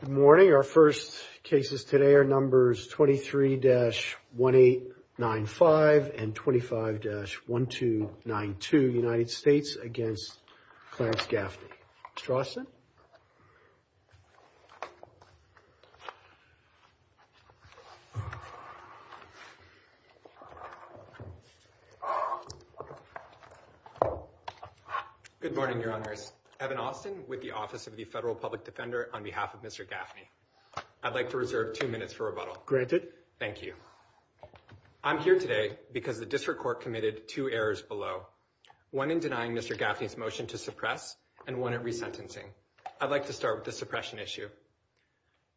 Good morning, our first cases today are numbers 23-1895 and 25-1292USA v. Clarence Gaffney. Mr. Austin? Good morning, Your Honors. Evan Austin with the Office of the Federal Public Defender on behalf of Mr. Gaffney. I'd like to reserve two minutes for rebuttal. Thank you. I'm here today because the district court committed two errors below. One in denying Mr. Gaffney's motion to suppress and one in resentencing. I'd like to start with the suppression issue.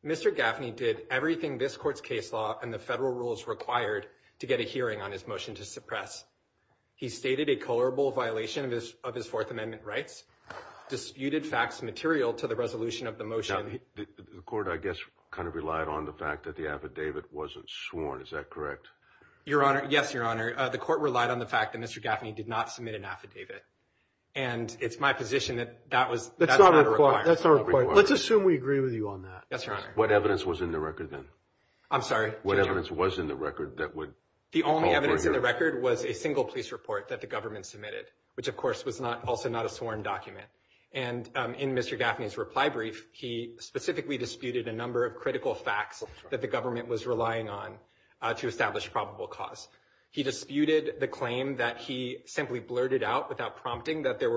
Mr. Gaffney did everything this court's case law and the federal rules required to get a hearing on his motion to suppress. He stated a colorable violation of his Fourth Amendment rights, disputed facts material to the resolution of the motion. The court, I guess, kind of relied on the fact that the affidavit wasn't sworn. Is that correct? Your Honor, yes, Your Honor. The court relied on the fact that Mr. Gaffney did not submit an affidavit. And it's my position that that was not required. Let's assume we agree with you on that. Yes, Your Honor. What evidence was in the record then? I'm sorry? What evidence was in the record that would call for a hearing? The only evidence in the record was a single police report that the government submitted, which of course was also not a sworn document. And in Mr. Gaffney's reply brief, he specifically disputed a number of critical facts that the government was relying on to establish probable cause. He disputed the claim that he simply blurted out without prompting that there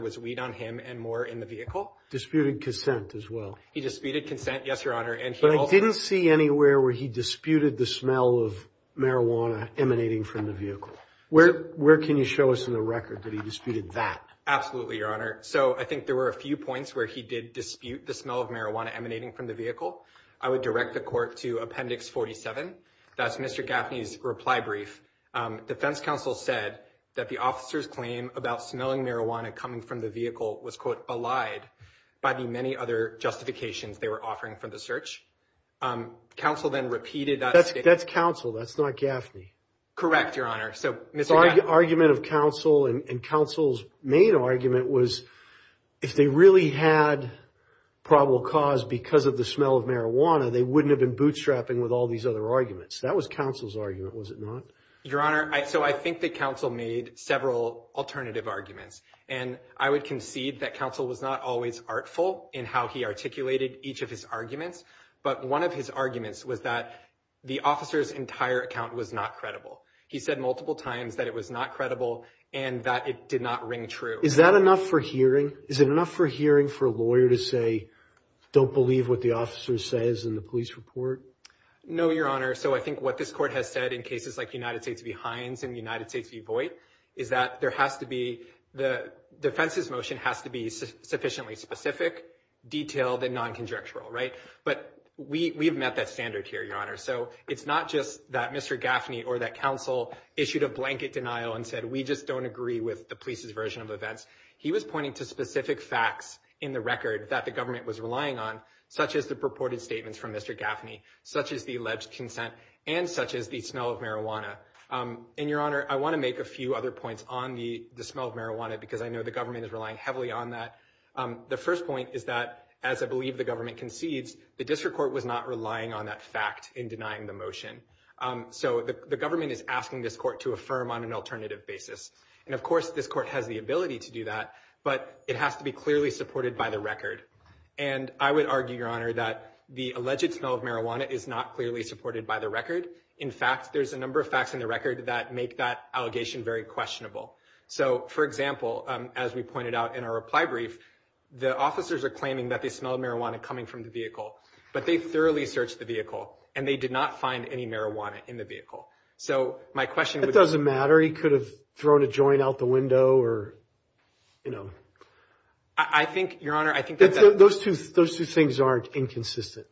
was weed on him and more in the vehicle. Disputed consent as well. He disputed consent, yes, Your Honor. But I didn't see anywhere where he disputed the smell of marijuana emanating from the vehicle. Where can you show us in the record that he disputed that? Absolutely, Your Honor. So I think there were a few points where he did dispute the smell of marijuana emanating from the vehicle. I would direct the court to Appendix 47. That's Mr. Gaffney's reply brief. Defense counsel said that the officer's claim about smelling marijuana coming from the vehicle was, quote, allied by the many other justifications they were offering for the search. Counsel then repeated that. That's counsel. That's not Gaffney. Correct, Your Honor. So the argument of counsel and counsel's main argument was if they really had probable cause because of the smell of marijuana, they wouldn't have been bootstrapping with all these other arguments. That was counsel's argument, was it not? Your Honor, so I think that counsel made several alternative arguments. And I would concede that counsel was not always artful in how he articulated each of his arguments. But one of his arguments was that the officer's entire account was not credible. He said multiple times that it was not credible and that it did not ring true. Is that enough for hearing? Is it enough for hearing for a lawyer to say, don't believe what the officer says in the police report? No, Your Honor. So I think what this court has said in cases like United States v. Hines and United States v. Voight is that there has to be, the defense's motion has to be sufficiently specific, detailed, and non-conjectural, right? But we have met that standard here, Your Honor. So it's not just that Mr. Gaffney or that counsel issued a blanket denial and said, we just don't agree with the police's version of events. He was pointing to specific facts in the record that the government was relying on, such as the purported statements from Mr. Gaffney, such as the alleged consent, and such as the smell of marijuana. And, Your Honor, I want to make a few other points on the smell of marijuana because I know the government is relying heavily on that. The first point is that, as I believe the government concedes, the district court was not relying on that fact in denying the motion. So the government is asking this court to affirm on an alternative basis. And, of course, this court has the ability to do that, but it has to be clearly supported by the record. And I would argue, Your Honor, that the alleged smell of marijuana is not clearly supported by the record. In fact, there's a number of facts in the record that make that allegation very questionable. So, for example, as we pointed out in our reply brief, the officers are claiming that they smelled marijuana coming from the vehicle, but they thoroughly searched the vehicle and they did not find any marijuana in the vehicle. So my question would be- That doesn't matter. He could have thrown a joint out the window or, you know. I think, Your Honor, I think- Those two things aren't inconsistent.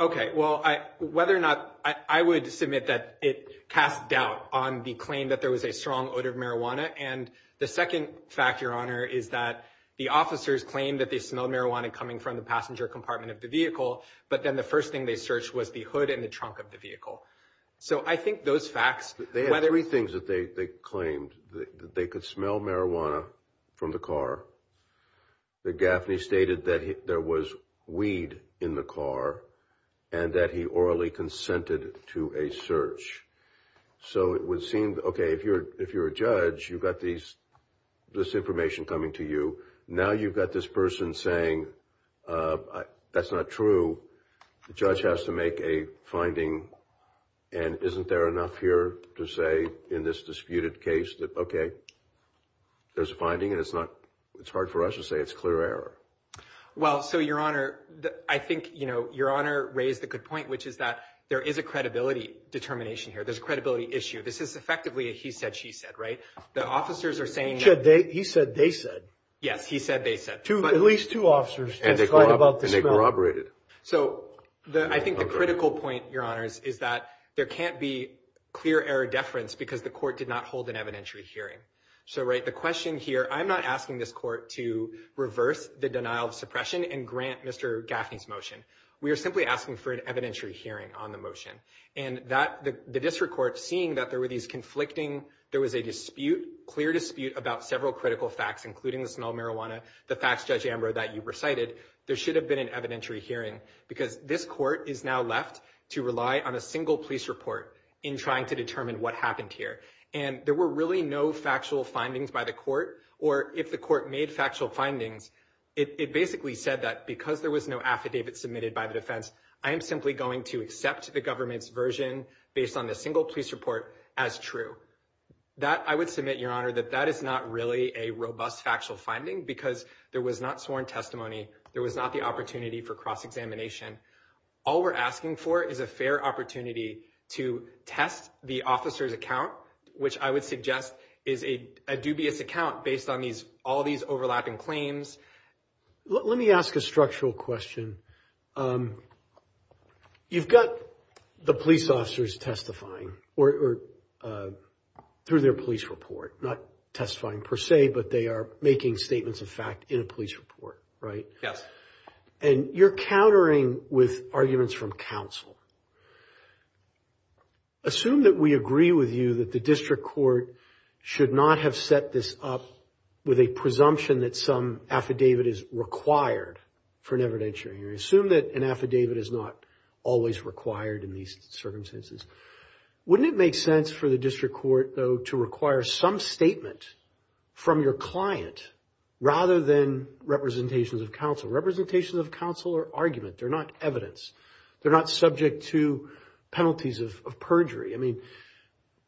Okay. Well, whether or not- I would submit that it casts doubt on the claim that there was a strong odor of marijuana. And the second fact, Your Honor, is that the officers claimed that they smelled marijuana coming from the passenger compartment of the vehicle, but then the first thing they searched was the hood and the trunk of the vehicle. So I think those facts- They had three things that they claimed. They could smell marijuana from the car. The Gaffney stated that there was weed in the car and that he orally consented to a search. So it would seem, okay, if you're a judge, you've got this information coming to you. Now you've got this person saying, that's not true. The judge has to make a finding, and isn't there enough here to say in this disputed case that, okay, there's a finding, and it's not- it's hard for us to say it's clear error. Well, so, Your Honor, I think, you know, Your Honor raised a good point, which is that there is a credibility determination here. There's a credibility issue. This is effectively a he said, she said, right? The officers are saying- He said, they said. Yes, he said, they said. At least two officers testified about the smell. Corroborated. So I think the critical point, Your Honors, is that there can't be clear error deference because the court did not hold an evidentiary hearing. So, right, the question here, I'm not asking this court to reverse the denial of suppression and grant Mr. Gaffney's motion. We are simply asking for an evidentiary hearing on the motion. And the district court, seeing that there were these conflicting- there was a dispute, clear dispute about several critical facts, including the smell of marijuana, the facts, Judge Amber, that you've recited, there should have been an evidentiary hearing because this court is now left to rely on a single police report in trying to determine what happened here. And there were really no factual findings by the court, or if the court made factual findings, it basically said that because there was no affidavit submitted by the defense, I am simply going to accept the government's version based on the single police report as true. That, I would submit, Your Honor, that that is not really a robust factual finding because there was not sworn testimony. There was not the opportunity for cross-examination. All we're asking for is a fair opportunity to test the officer's account, which I would suggest is a dubious account based on all these overlapping claims. Let me ask a structural question. You've got the police officers testifying, or through their police report. Not testifying per se, but they are making statements of fact in a police report, right? Yes. And you're countering with arguments from counsel. Assume that we agree with you that the district court should not have set this up with a presumption that some affidavit is required for an evidentiary. Assume that an affidavit is not always required in these circumstances. Wouldn't it make sense for the district court, though, to require some statement from your client rather than representations of counsel? They're not evidence. They're not subject to penalties of perjury. I mean,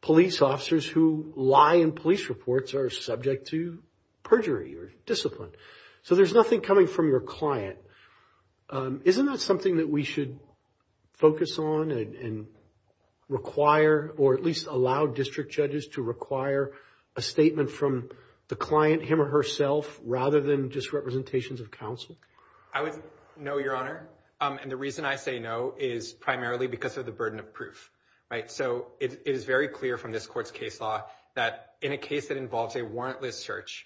police officers who lie in police reports are subject to perjury or discipline. So there's nothing coming from your client. Isn't that something that we should focus on and require, or at least allow district judges to require a statement from the client, him or herself, rather than just representations of counsel? I would no, Your Honor. And the reason I say no is primarily because of the burden of proof, right? So it is very clear from this court's case law that in a case that involves a warrantless search,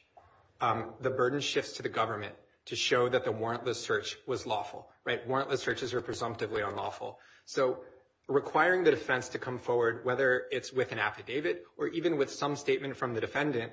the burden shifts to the government to show that the warrantless search was lawful, right? Warrantless searches are presumptively unlawful. So requiring the defense to come forward, whether it's with an affidavit or even with some statement from the defendant,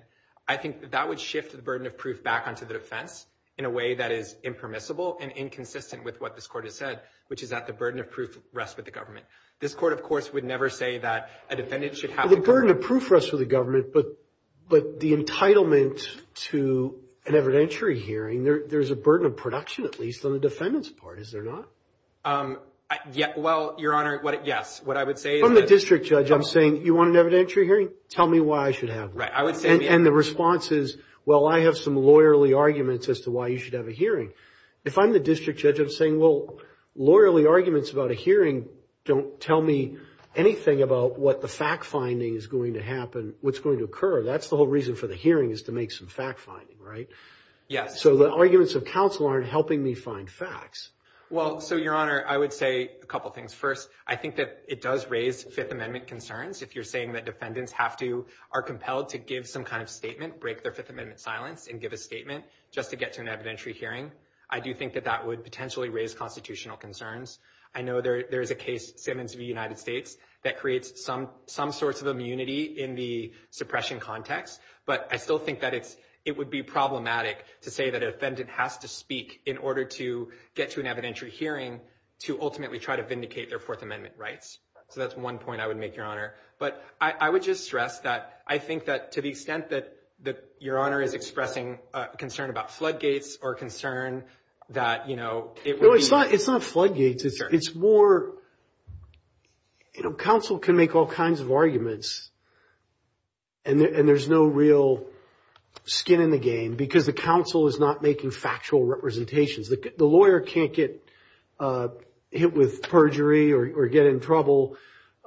I think that would shift the burden of proof back onto the defense in a way that is impermissible and inconsistent with what this court has said, which is that the burden of proof rests with the government. This court, of course, would never say that a defendant should have the burden of proof rests with the government, but the entitlement to an evidentiary hearing, there's a burden of production at least on the defendant's part, is there not? Well, Your Honor, yes. From the district judge, I'm saying, you want an evidentiary hearing? Tell me why I should have one. And the response is, well, I have some lawyerly arguments as to why you should have a hearing. If I'm the district judge, I'm saying, well, lawyerly arguments about a hearing don't tell me anything about what the fact-finding is going to happen, what's going to occur. That's the whole reason for the hearing is to make some fact-finding, right? Yes. So the arguments of counsel aren't helping me find facts. Well, so, Your Honor, I would say a couple things. First, I think that it does raise Fifth Amendment concerns. If you're saying that defendants have to, are compelled to give some kind of statement, break their Fifth Amendment silence and give a statement just to get to an evidentiary hearing, I do think that that would potentially raise constitutional concerns. I know there is a case, Simmons v. United States, that creates some sorts of immunity in the suppression context. But I still think that it would be problematic to say that a defendant has to speak in order to get to an evidentiary hearing to ultimately try to vindicate their Fourth Amendment rights. So that's one point I would make, Your Honor. But I would just stress that I think that to the extent that Your Honor is expressing concern about floodgates or concern that, you know, it would be— It's more, you know, counsel can make all kinds of arguments and there's no real skin in the game because the counsel is not making factual representations. The lawyer can't get hit with perjury or get in trouble.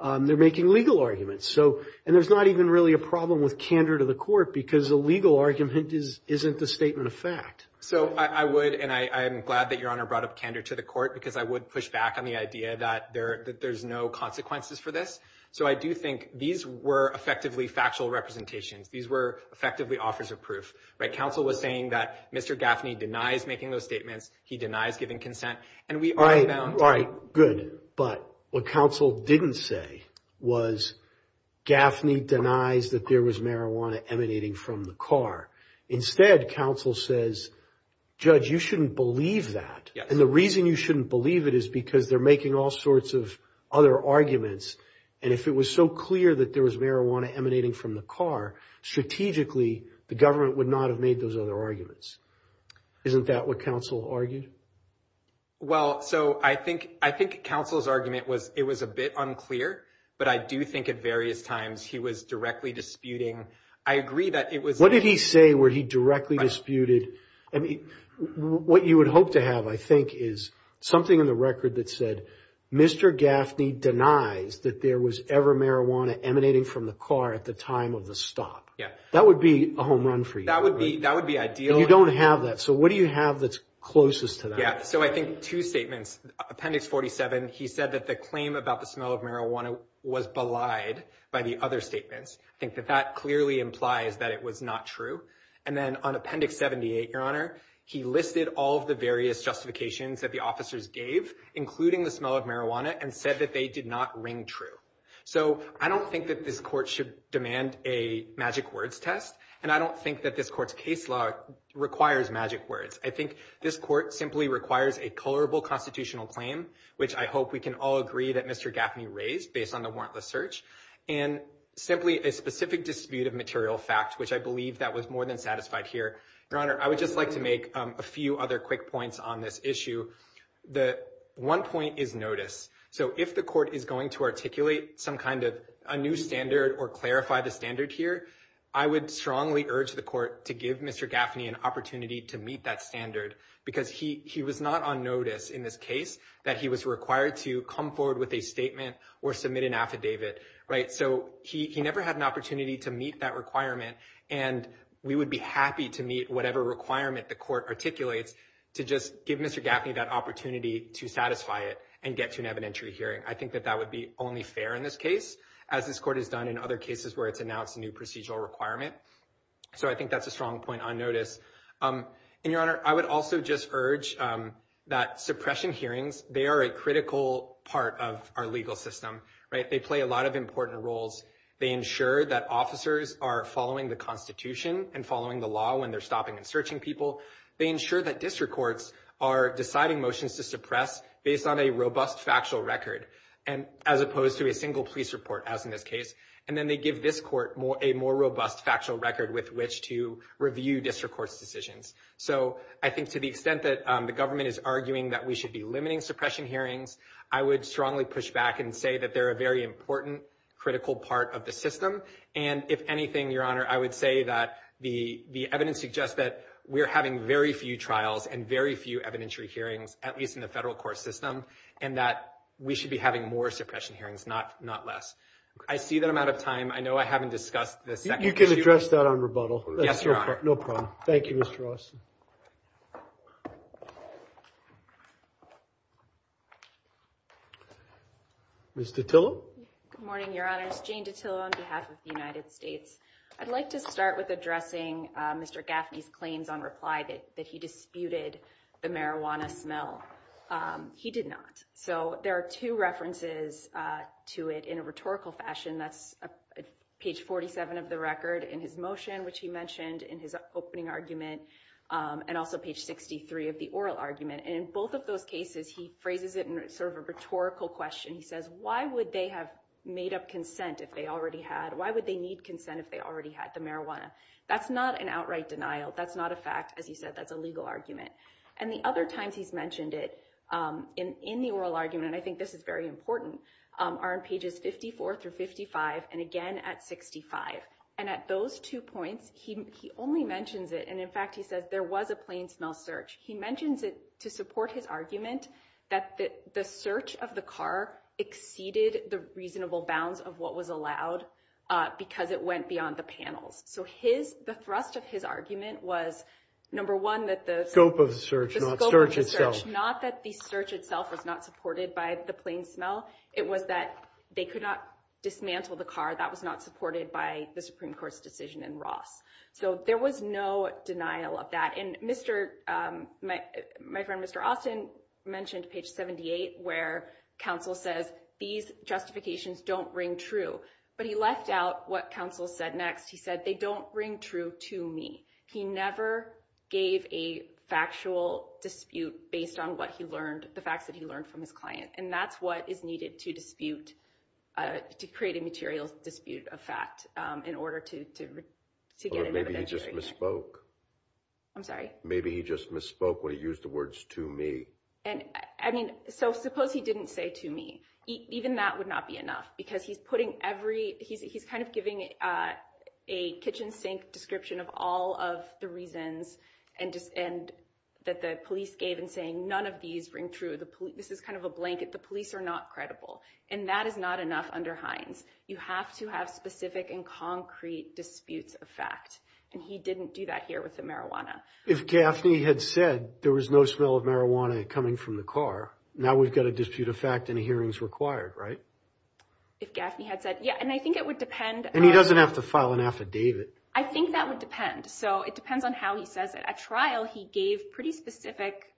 They're making legal arguments. And there's not even really a problem with candor to the court because a legal argument isn't the statement of fact. So I would—and I'm glad that Your Honor brought up candor to the court because I would push back on the idea that there's no consequences for this. So I do think these were effectively factual representations. These were effectively offers of proof. Counsel was saying that Mr. Gaffney denies making those statements. He denies giving consent. And we are— All right, good. But what counsel didn't say was Gaffney denies that there was marijuana emanating from the car. Instead, counsel says, Judge, you shouldn't believe that. And the reason you shouldn't believe it is because they're making all sorts of other arguments. And if it was so clear that there was marijuana emanating from the car, strategically, the government would not have made those other arguments. Isn't that what counsel argued? Well, so I think—I think counsel's argument was it was a bit unclear, but I do think at various times he was directly disputing. I agree that it was— What did he say where he directly disputed? I mean, what you would hope to have, I think, is something in the record that said Mr. Gaffney denies that there was ever marijuana emanating from the car at the time of the stop. Yeah. That would be a home run for you. That would be—that would be ideal. And you don't have that. So what do you have that's closest to that? Yeah, so I think two statements. Appendix 47, he said that the claim about the smell of marijuana was belied by the other statements. I think that that clearly implies that it was not true. And then on Appendix 78, Your Honor, he listed all of the various justifications that the officers gave, including the smell of marijuana, and said that they did not ring true. So I don't think that this court should demand a magic words test, and I don't think that this court's case law requires magic words. I think this court simply requires a colorable constitutional claim, which I hope we can all agree that Mr. Gaffney raised based on the warrantless search, and simply a specific dispute of material fact, which I believe that was more than satisfied here. Your Honor, I would just like to make a few other quick points on this issue. One point is notice. So if the court is going to articulate some kind of a new standard or clarify the standard here, I would strongly urge the court to give Mr. Gaffney an opportunity to meet that standard, because he was not on notice in this case that he was required to come forward with a statement or submit an affidavit. So he never had an opportunity to meet that requirement, and we would be happy to meet whatever requirement the court articulates to just give Mr. Gaffney that opportunity. So I would strongly urge the court to give Mr. Gaffney that opportunity to satisfy it and get to an evidentiary hearing. I think that that would be only fair in this case, as this court has done in other cases where it's announced a new procedural requirement. So I think that's a strong point on notice. And, Your Honor, I would also just urge that suppression hearings, they are a critical part of our legal system. They play a lot of important roles. They ensure that officers are following the Constitution and following the law when they're stopping and searching people. They ensure that district courts are deciding motions to suppress based on a robust factual record, as opposed to a single police report, as in this case. And then they give this court a more robust factual record with which to review district court's decisions. So I think to the extent that the government is arguing that we should be limiting suppression hearings, I would strongly push back and say that they're a very important, critical part of the system. And if anything, Your Honor, I would say that the evidence suggests that we're having very few trials and very few evidentiary hearings, at least in the federal court system, and that we should be having more suppression hearings, not less. I see that I'm out of time. I know I haven't discussed the second issue. You can address that on rebuttal. Yes, Your Honor. No problem. Thank you, Mr. Austin. Ms. DiTillo. Good morning, Your Honors. Jane DiTillo on behalf of the United States. I'd like to start with addressing Mr. Gaffney's claims on reply that he disputed the marijuana smell. He did not. So there are two references to it in a rhetorical fashion. That's page 47 of the record in his motion, which he mentioned in his opening argument, and also page 63 of the oral argument. And in both of those cases, he phrases it in sort of a rhetorical question. He says, why would they have made up consent if they already had? Why would they need consent if they already had the marijuana? That's not an outright denial. That's not a fact. As you said, that's a legal argument. And the other times he's mentioned it in the oral argument, and I think this is very important, are in pages 54 through 55, and again at 65. And at those two points, he only mentions it. And in fact, he says there was a plain smell search. He mentions it to support his argument that the search of the car exceeded the reasonable bounds of what was allowed because it went beyond the panels. So the thrust of his argument was, number one, that the scope of the search, not that the search itself was not supported by the plain smell, it was that they could not dismantle the car. That was not supported by the Supreme Court's decision in Ross. So there was no denial of that. And my friend Mr. Austin mentioned page 78 where counsel says, these justifications don't ring true. But he left out what counsel said next. He said, they don't ring true to me. He never gave a factual dispute based on what he learned, the facts that he learned from his client. And that's what is needed to dispute, to create a material dispute of fact in order to get an evidence. Maybe he just misspoke when he used the words to me. So suppose he didn't say to me. Even that would not be enough because he's putting every, he's kind of giving a kitchen sink description of all of the reasons that the police gave in saying none of these ring true. This is kind of a blanket. The police are not credible. And that is not enough under Hines. You have to have specific and concrete disputes of fact. And he didn't do that here with the marijuana. If Gaffney had said there was no smell of marijuana coming from the car, now we've got a dispute of fact and a hearing is required, right? If Gaffney had said, yeah. And I think it would depend. And he doesn't have to file an affidavit. I think that would depend. So it depends on how he says it. At trial, he gave pretty specific,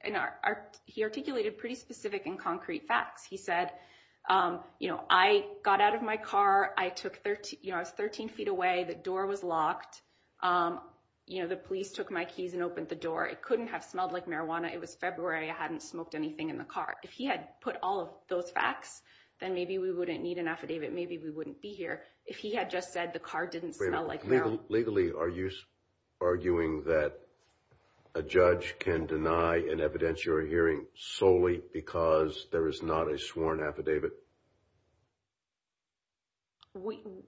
he articulated pretty specific and concrete facts. He said, I got out of my car. I was 13 feet away. The door was locked. The police took my keys and opened the door. It couldn't have smelled like marijuana. It was February. I hadn't smoked anything in the car. If he had put all of those facts, then maybe we wouldn't need an affidavit. Maybe we wouldn't be here. If he had just said the car didn't smell like marijuana. Legally, are you arguing that a judge can deny an evidentiary hearing solely because there is not a sworn affidavit?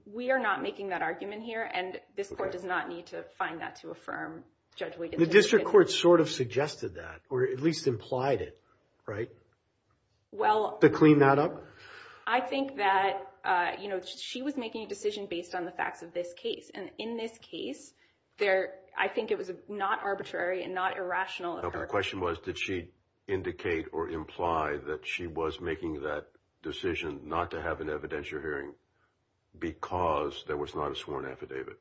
We are not making that argument here. And this court does not need to find that to affirm Judge Wiggins. The district court sort of suggested that, or at least implied it, right? To clean that up? I think that she was making a decision based on the facts of this case. And in this case, I think it was not arbitrary and not irrational. The question was, did she indicate or imply that she was making that decision not to have an evidentiary hearing because there was not a sworn affidavit?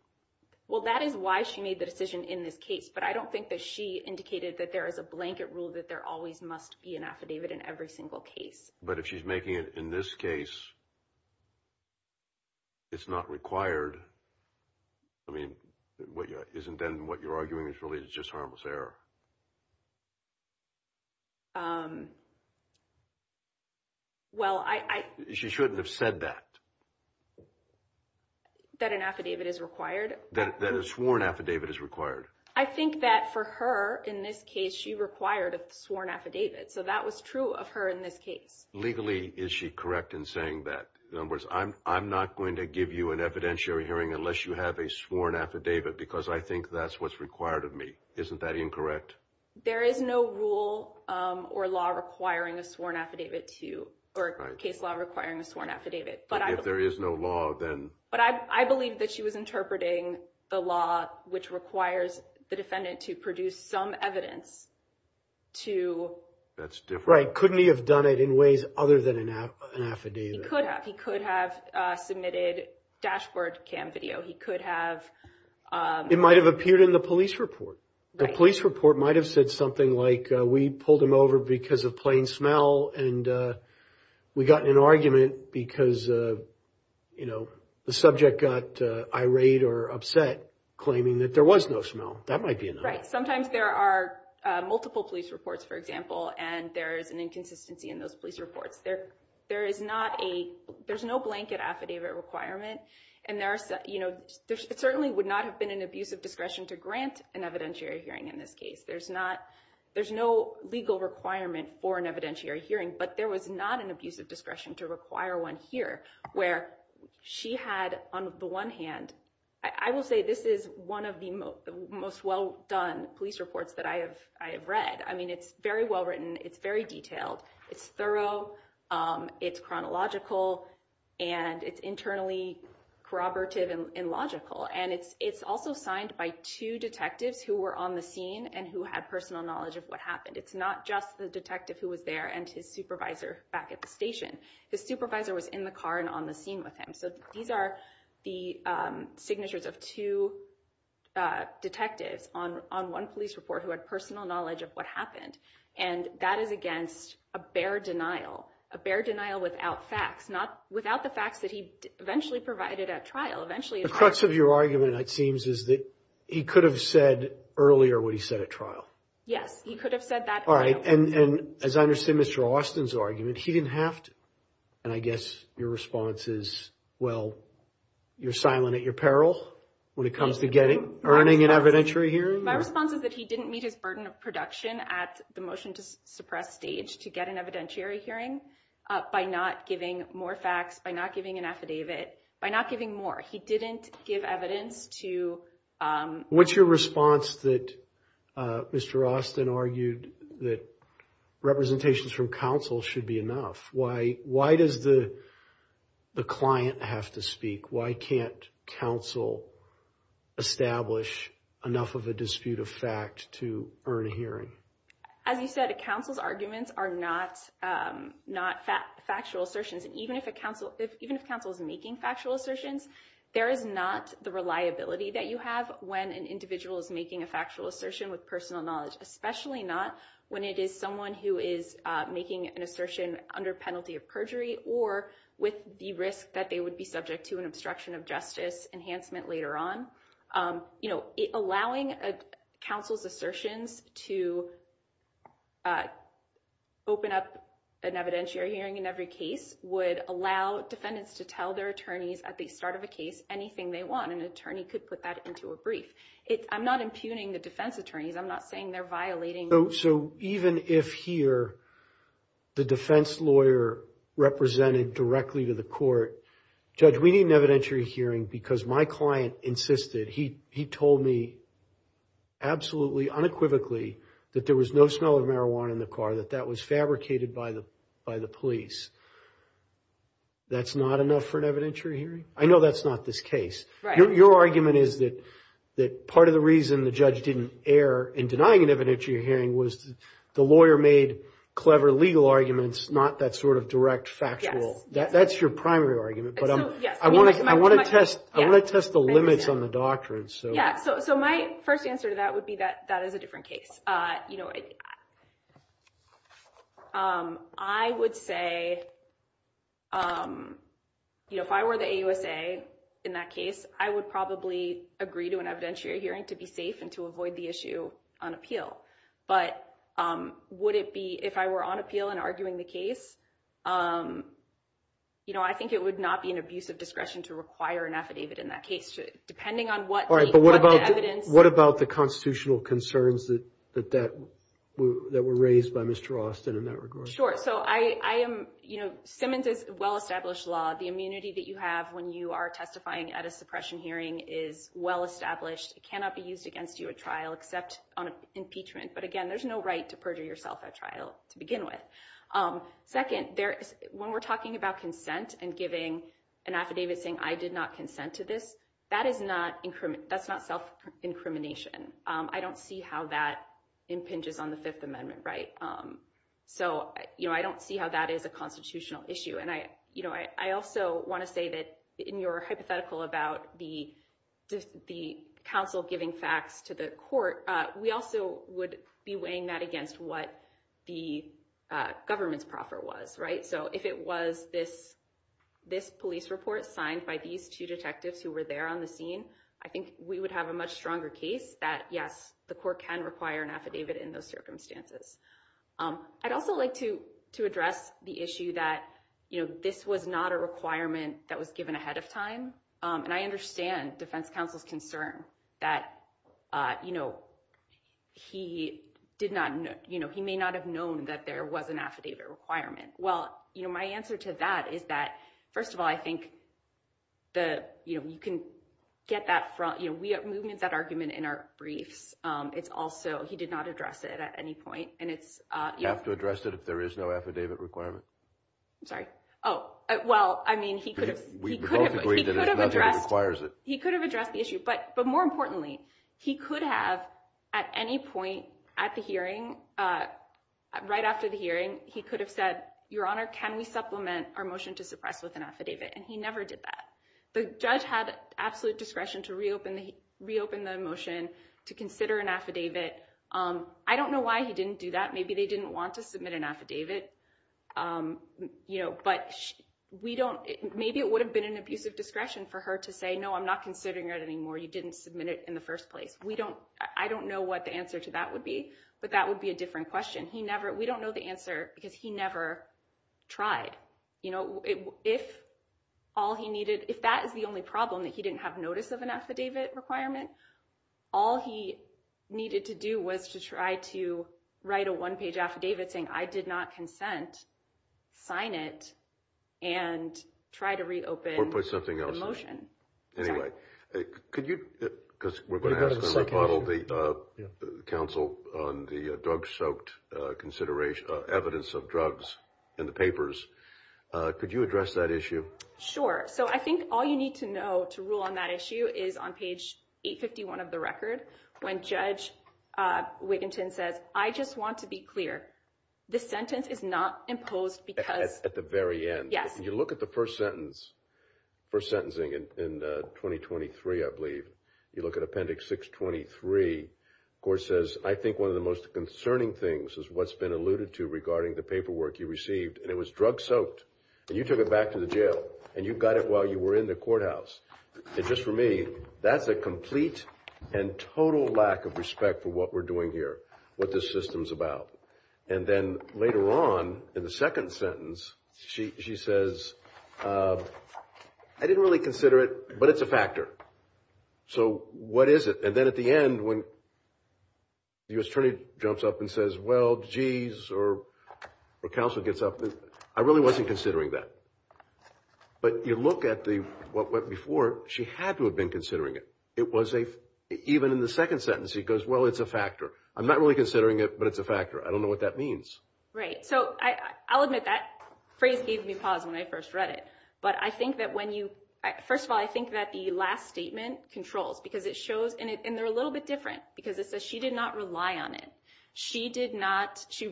Well, that is why she made the decision in this case. But I don't think that she indicated that there is a blanket rule that there always must be an affidavit in every single case. But if she's making it in this case, it's not required. Isn't then what you're arguing is really just harmless error? She shouldn't have said that. That an affidavit is required? That a sworn affidavit is required. I think that for her, in this case, she required a sworn affidavit. So that was true of her in this case. Legally, is she correct in saying that? In other words, I'm not going to give you an evidentiary hearing unless you have a sworn affidavit, because I think that's what's required of me. Isn't that incorrect? There is no rule or law requiring a sworn affidavit to, or case law requiring a sworn affidavit. But if there is no law, then? But I believe that she was interpreting the law which requires the defendant to produce some evidence to... That's different. Right. Couldn't he have done it in ways other than an affidavit? He could have. He could have submitted dashboard cam video. He could have... It might have appeared in the police report. The police report might have said something like, we pulled him over because of plain smell and we got in an argument because the subject got irate or upset claiming that there was no smell. That might be another. Right. Sometimes there are multiple police reports, for example, and there is an inconsistency in those police reports. There is no blanket affidavit requirement and there certainly would not have been an abusive discretion to grant an evidentiary hearing in this case. There's no legal requirement for an evidentiary hearing, but there was not an abusive discretion to require one here where she had, on the one hand... I will say this is one of the most well done police reports that I have read. It's very well written. It's very detailed. It's thorough. It's chronological. It's internally corroborative and logical. It's also signed by two detectives who were on the scene and who had personal knowledge of what happened. It's not just the detective who was there and his supervisor back at the station. His supervisor was in the car and on the scene with him. These are the signatures of two detectives on one police report who had personal knowledge of what happened and that is against a bare denial. A bare denial without facts. Without the facts that he eventually provided at trial. The crux of your argument, it seems, is that he could have said earlier what he said at trial. Yes. He could have said that earlier. As I understand Mr. Austin's argument, he didn't have to. And I guess your response is, well, you're silent at your peril when it comes to earning an evidentiary hearing? My response is that he didn't meet his burden of production at the motion to suppress stage to get an evidentiary hearing by not giving more facts, by not giving an affidavit, by not giving more. He didn't give evidence to... What's your response that Mr. Austin argued that representations from counsel should be enough? Why does the client have to speak? Why can't counsel establish enough of a dispute of fact to earn a hearing? As you said, a counsel's arguments are not factual assertions. Even if counsel is making factual assertions, there is not the reliability that you have when an individual is making a factual assertion with personal knowledge. Especially not when it is someone who is making an assertion under penalty of perjury or with the risk that they would be subject to an obstruction of justice enhancement later on. Allowing counsel's assertions to open up an evidentiary hearing in every case would allow defendants to tell their attorneys at the start of a case anything they want. An attorney could put that into a brief. I'm not impugning the defense attorneys. I'm not saying they're violating... So even if here the defense lawyer represented directly to the court, Judge, we need an evidentiary hearing because my client insisted, he told me absolutely unequivocally that there was no smell of marijuana in the car, that that was fabricated by the police. That's not enough for an evidentiary hearing? I know that's not this case. Your argument is that part of the reason the judge didn't err in denying an evidentiary hearing was the lawyer made clever legal arguments, not that sort of direct factual. That's your primary argument. I want to test the limits on the doctrine. My first answer to that would be that that is a different case. I would say if I were the AUSA in that case, I would probably agree to an evidentiary hearing to be safe and to avoid the issue on appeal. But if I were on appeal and arguing the case, I think it would not be an abusive discretion to require an affidavit in that case. What about the constitutional concerns that were raised by Mr. Austin in that regard? Simmons is a well-established law. The immunity that you have when you are testifying at a suppression hearing is well-established. It cannot be used against you at trial except on impeachment. But again, there's no right to perjure yourself at trial to begin with. Second, when we're talking about consent and giving an affidavit saying I did not consent to this, that's not self-incrimination. I don't see how that impinges on the Fifth Amendment. I don't see how that is a constitutional issue. I also want to say that in your hypothetical about the counsel giving facts to the court, we also would be weighing that against what the government's proffer was. So if it was this police report signed by these two detectives who were there on the scene, I think we would have a much stronger case that, yes, the court can require an affidavit in those circumstances. I'd also like to address the issue that this was not a requirement that was given ahead of time. And I understand defense counsel's concern that he may not have known that there was an affidavit requirement. Well, my answer to that is that first of all, I think you can get that argument in our briefs. He did not address it at any point. You have to address it if there is no affidavit requirement. He could have addressed the issue. But more importantly, he could have at any point at the hearing, right after the hearing, he could have said, Your Honor, can we supplement our motion to suppress with an affidavit? And he never did that. The judge had absolute discretion to reopen the motion to consider an affidavit. I don't know why he didn't do that. Maybe they didn't want to submit an affidavit. Maybe it would have been an abusive discretion for her to say, No, I'm not considering it anymore. You didn't submit it in the first place. I don't know what the answer to that would be, but that would be a different question. We don't know the answer because he never tried. If that is the only problem, that he didn't have notice of an affidavit requirement, all he needed to do was to try to write a one-page affidavit saying, I did not consent, sign it, and try to reopen the motion. We're going to have to rebuttal the counsel on the drug-soaked evidence of drugs in the papers. Could you address that issue? Sure. So I think all you need to know to rule on that issue is on page 851 of the record when Judge Wigginton says, I just want to be clear. This sentence is not imposed because... At the very end. Yes. If you look at the first sentence, first sentencing in 2023, I believe, you look at Appendix 623, the Court says, I think one of the most concerning things is what's been alluded to regarding the paperwork you received, and it was drug-soaked. And you took it back to the jail. And you got it while you were in the courthouse. And just for me, that's a complete and total lack of respect for what we're doing here, what this system's about. And then later on in the second sentence, she says, I didn't really consider it, but it's a factor. So what is it? And then at the end, when the U.S. Attorney jumps up and says, well, geez, or counsel gets up, I really wasn't considering that. But you look at what before, she had to have been considering it. It was a... Even in the second sentence, he goes, well, it's a factor. I'm not really considering it, but it's a factor. I don't know what that means. Right. So I'll admit that phrase gave me pause when I first read it. But I think that when you... First of all, I think that the last statement controls, because it shows... And they're a little bit different, because it says she did not rely on it. She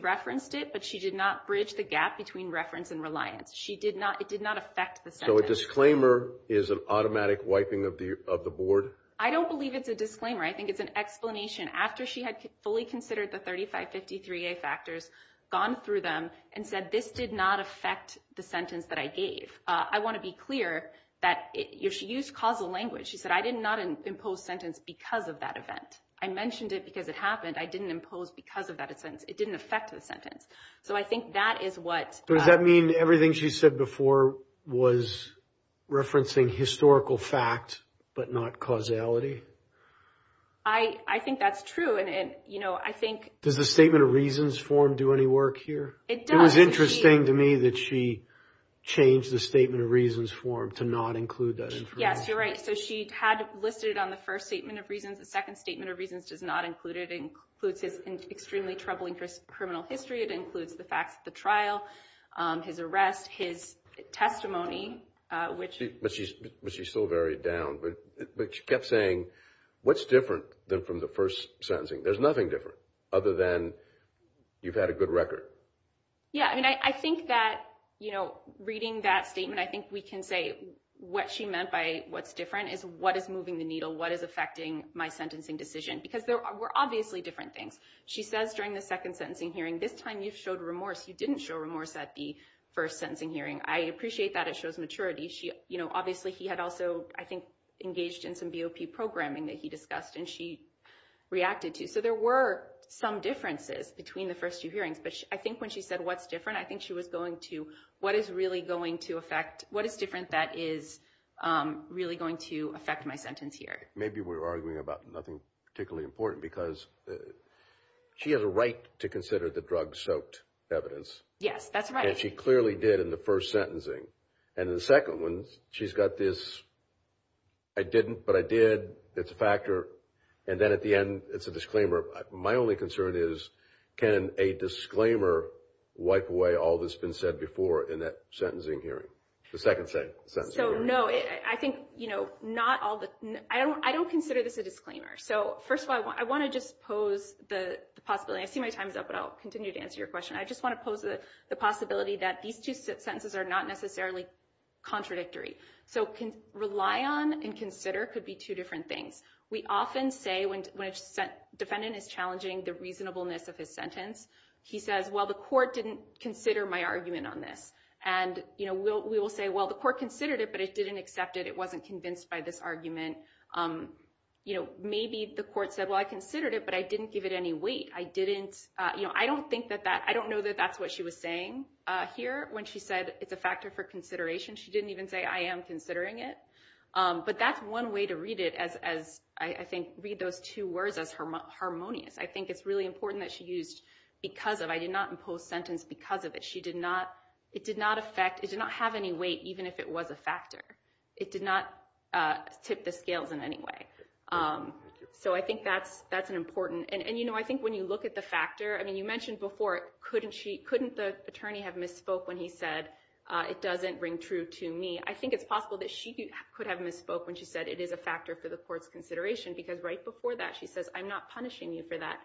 referenced it, but she did not bridge the gap between reference and reliance. It did not affect the sentence. So a disclaimer is an automatic wiping of the board? I don't believe it's a disclaimer. I think it's an explanation. After she had fully considered the 3553A factors, gone through them, and said this did not affect the sentence that I gave. I want to be clear that if she used causal language, she said, I did not impose sentence because of that event. I mentioned it because it happened. I didn't impose because of that sentence. It didn't affect the sentence. So I think that is what... Does that mean everything she said before was referencing historical fact, but not causality? I think that's true. And I think... Does the statement of reasons form do any work here? It does. It was interesting to me that she changed the statement of reasons form to not include that information. Yes, you're right. So she had listed it on the first statement of reasons. The second statement of reasons does not include it. It includes his extremely troubling criminal history. It includes the facts of the trial, his arrest, his testimony, which... But she still varied down. But she kept saying, what's different than from the first sentencing? There's nothing different other than you've had a good record. Yeah. I think that reading that statement, I think we can say what she meant by what's different is what is moving the needle, what is affecting my sentencing decision. Because there were obviously different things. She says during the second sentencing hearing, this time you've showed remorse. You didn't show remorse at the first sentencing hearing. I appreciate that. It shows maturity. Obviously he had also I think engaged in some BOP programming that he discussed and she reacted to. So there were some differences between the first two hearings. But I think when she said what's different, I think she was going to... What is really going to affect... What is different that is really going to affect my sentence here? Maybe we're arguing about nothing particularly important because she has a right to consider the drug-soaked evidence. Yes, that's right. And she clearly did in the first sentencing. And in the second one, she's got this, I didn't, but I did. It's a factor. And then at the end, it's a disclaimer. My only concern is, can a disclaimer wipe away all that's been said before in that sentencing hearing? The second sentencing hearing. So no, I think not all the... I don't consider this a disclaimer. So first of all, I want to just pose the possibility. I see my time is up, but I'll continue to answer your question. I just want to pose the possibility that these two sentences are not necessarily contradictory. So rely on and consider could be two different things. We often say when a defendant is challenging the reasonableness of his sentence, he says, well, the court didn't consider my argument on this. And we will say, well, the court considered it, but it didn't accept it. It wasn't convinced by this argument. Maybe the court said, well, I considered it, but I didn't give it any weight. I don't think that that... I don't know that that's what she was saying here when she said it's a factor for consideration. She didn't even say, I am considering it. But that's one way to read it as I think read those two words as harmonious. I think it's really important that she used because of. I did not impose sentence because of it. It did not have any weight, even if it was a factor. It did not tip the scales in any way. So I think that's an important... And I think when you look at the factor, I mean, you mentioned before, couldn't the attorney have misspoke when he said it doesn't ring true to me. I think it's possible that she could have misspoke when she said it is a factor for the court's consideration because right before that she says, I'm not punishing you for that.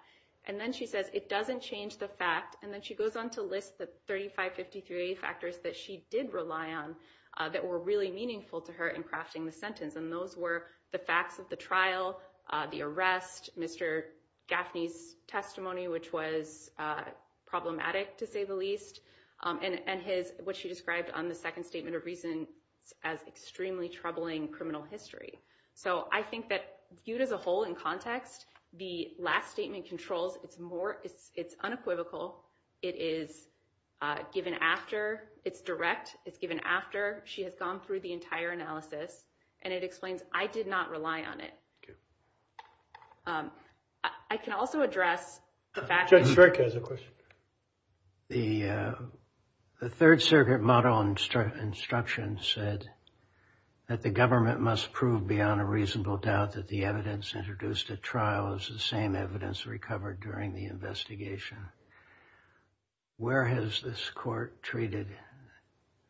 And then she says it doesn't change the fact and then she goes on to list the 35-53 factors that she did rely on that were really meaningful to her in crafting the sentence. And those were the facts of the trial, the arrest, Mr. Gaffney's testimony, which was problematic to say the least, and what she described on the second statement of reason as extremely troubling criminal history. So I think that viewed as a whole in context, the last statement controls. It's unequivocal. It is given after. It's direct. It's given after. She has gone through the entire analysis and it explains, I did not rely on it. I can also address the fact that... The Third Circuit model instruction said that the government must prove beyond a reasonable doubt that the evidence introduced at trial is the same evidence recovered during the investigation. Where has this court treated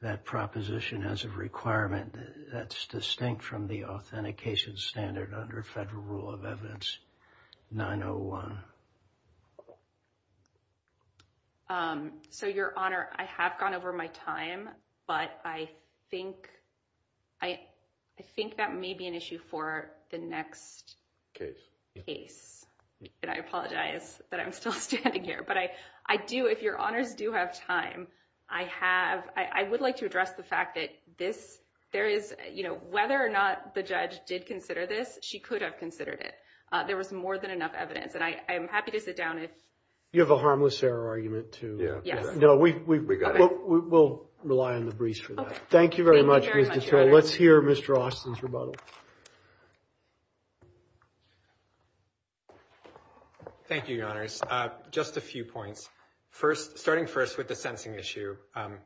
that proposition as a requirement that's distinct from the authentication standard under Federal Rule of Evidence 901? So, Your Honor, I have gone over my time, but I think that may be an issue for the next case. And I apologize that I'm still standing here, but I do, if Your Honors do have time, I have, I would like to address the fact that this, there is, you know, whether or not the judge did consider this, she could have considered it. There was more than enough evidence and I am happy to sit down if... You have a harmless error argument too. Yes. No, we got it. We'll rely on the briefs for that. Thank you very much. Let's hear Mr. Austin's rebuttal. Thank you, Your Honors. Just a few points. First, starting first with the sentencing issue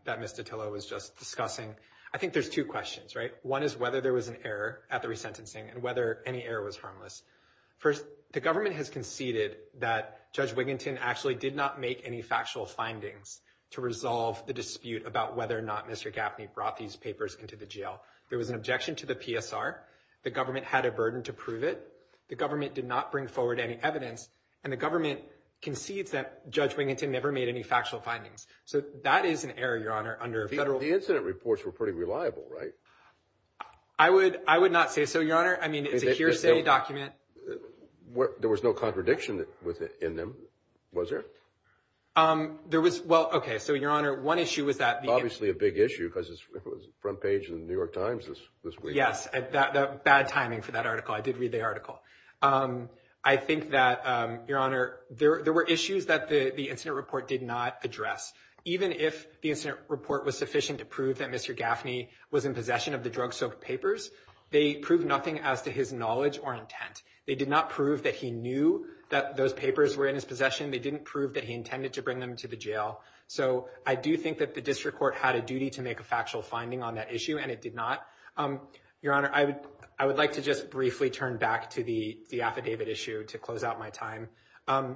that Ms. Dottillo was just discussing. I think there's two questions, right? One is whether there was an error at the resentencing and whether any error was harmless. First, the government has conceded that Judge Wiginton actually did not make any factual findings to resolve the dispute about whether or not Mr. Gaffney brought these papers into the jail. There was an objection to the PSR. The government had a burden to prove it. The government did not bring forward any evidence and the government concedes that Judge Wiginton never made any factual findings. So that is an error, Your Honor, under a federal... The incident reports were pretty reliable, right? I would not say so, Your Honor. I mean, it's a hearsay document. There was no contradiction in them, was there? There was, well, okay, so Your Honor, one issue was that... Obviously a big issue because it was front page of the New York Times this week. Yes, bad timing for that article. I did read the article. I think that, Your Honor, there were issues that the incident report did not address. Even if the incident report was sufficient to prove that Mr. Gaffney was in possession of the drug-soaked papers, they proved nothing as to his knowledge or intent. They did not prove that he knew that those papers were in his possession. They didn't prove that he intended to bring them to the jail. So I do think that the district court had a duty to make a factual finding on that issue, and it did not. Your Honor, I would like to just briefly turn back to the affidavit issue to close out my time. I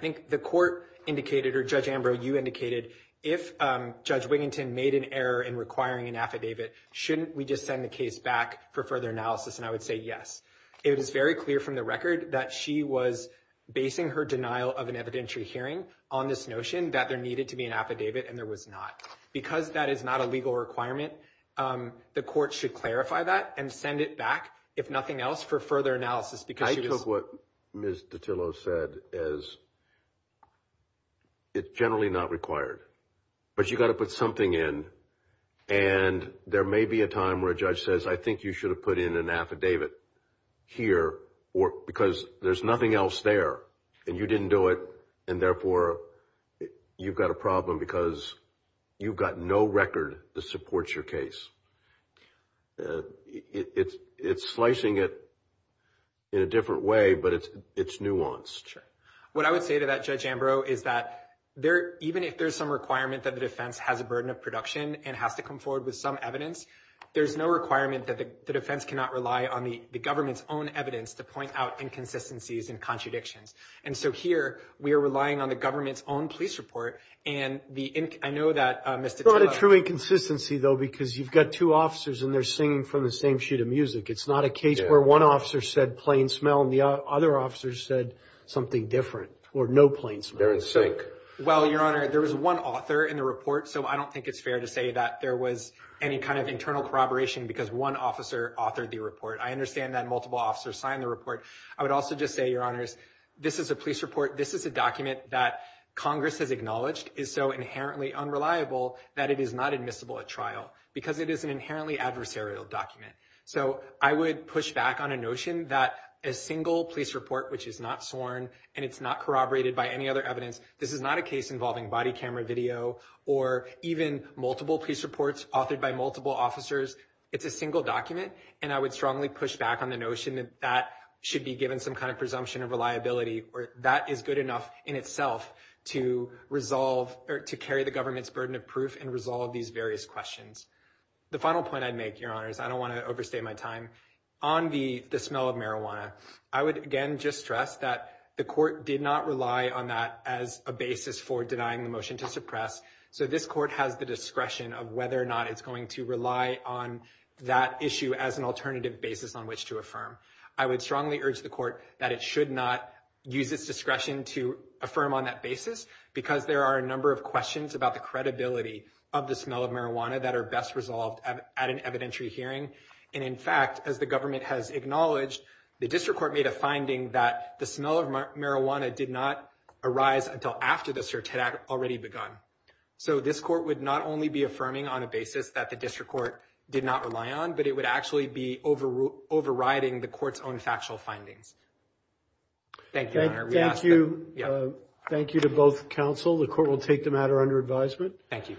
think the court indicated, or Judge Ambrose, you indicated, if Judge Wiginton made an error in requiring an affidavit, shouldn't we just send the case back for further analysis? And I would say yes. It is very clear from the record that she was basing her denial of an evidentiary hearing on this notion that there needed to be an affidavit, and there was not. Because that is not a legal requirement, the court should clarify that and send it back, if nothing else, for further analysis. I took what Ms. Dottillo said as it's generally not required. But you've got to put something in and there may be a time where a judge says, I think you should have put in an affidavit here because there's nothing else there. And you didn't do it, and therefore you've got a problem because you've got no record that supports your case. It's slicing it in a different way, but it's nuanced. What I would say to that, Judge Ambrose, is that even if there's some requirement that the defense has a burden of production and has to come forward with some evidence, there's no requirement that the defense cannot rely on the government's own evidence to point out inconsistencies and contradictions. And so here, we are relying on the government's own police report, and I know that Ms. Dottillo... It's not a true inconsistency, though, because you've got two officers and they're singing from the same sheet of music. It's not a case where one officer said plain smell and the other officer said something different, or no plain smell. They're in sync. Well, Your Honor, there was one author in the report, so I don't think it's fair to say that there was any kind of internal corroboration because one officer authored the report. I understand that multiple officers signed the report. I would also just say, Your Honors, this is a police report. This is a document that Congress has acknowledged is so inherently unreliable that it is not admissible at trial because it is an inherently adversarial document. So I would push back on a notion that a single police report which is not sworn and it's not corroborated by any other evidence, this is not a case involving body camera video or even multiple police reports authored by multiple officers. It's a single document, and I would strongly push back on the notion that that should be given some kind of presumption of reliability, or that is good enough in itself to carry the government's burden of proof and resolve these various questions. The final point I'd make, Your Honors, I don't want to overstate my time, on the smell of marijuana, I would again just stress that the court did not rely on that as a basis for denying the motion to suppress. So this court has the discretion of whether or not it's going to rely on that issue as an alternative basis on which to affirm. I would strongly urge the court that it should not use its discretion to affirm on that basis because there are a number of questions about the credibility of the smell of marijuana that are best resolved at an evidentiary hearing. And in fact, as the government has acknowledged, the district court made a finding that the smell of marijuana did not arise until after the search had already begun. So this court would not only be affirming on a basis that the district court did not rely on, but it would actually be overriding the court's own factual findings. Thank you, Your Honor. Thank you to both counsel. The court will take the matter under advisement. Thank you.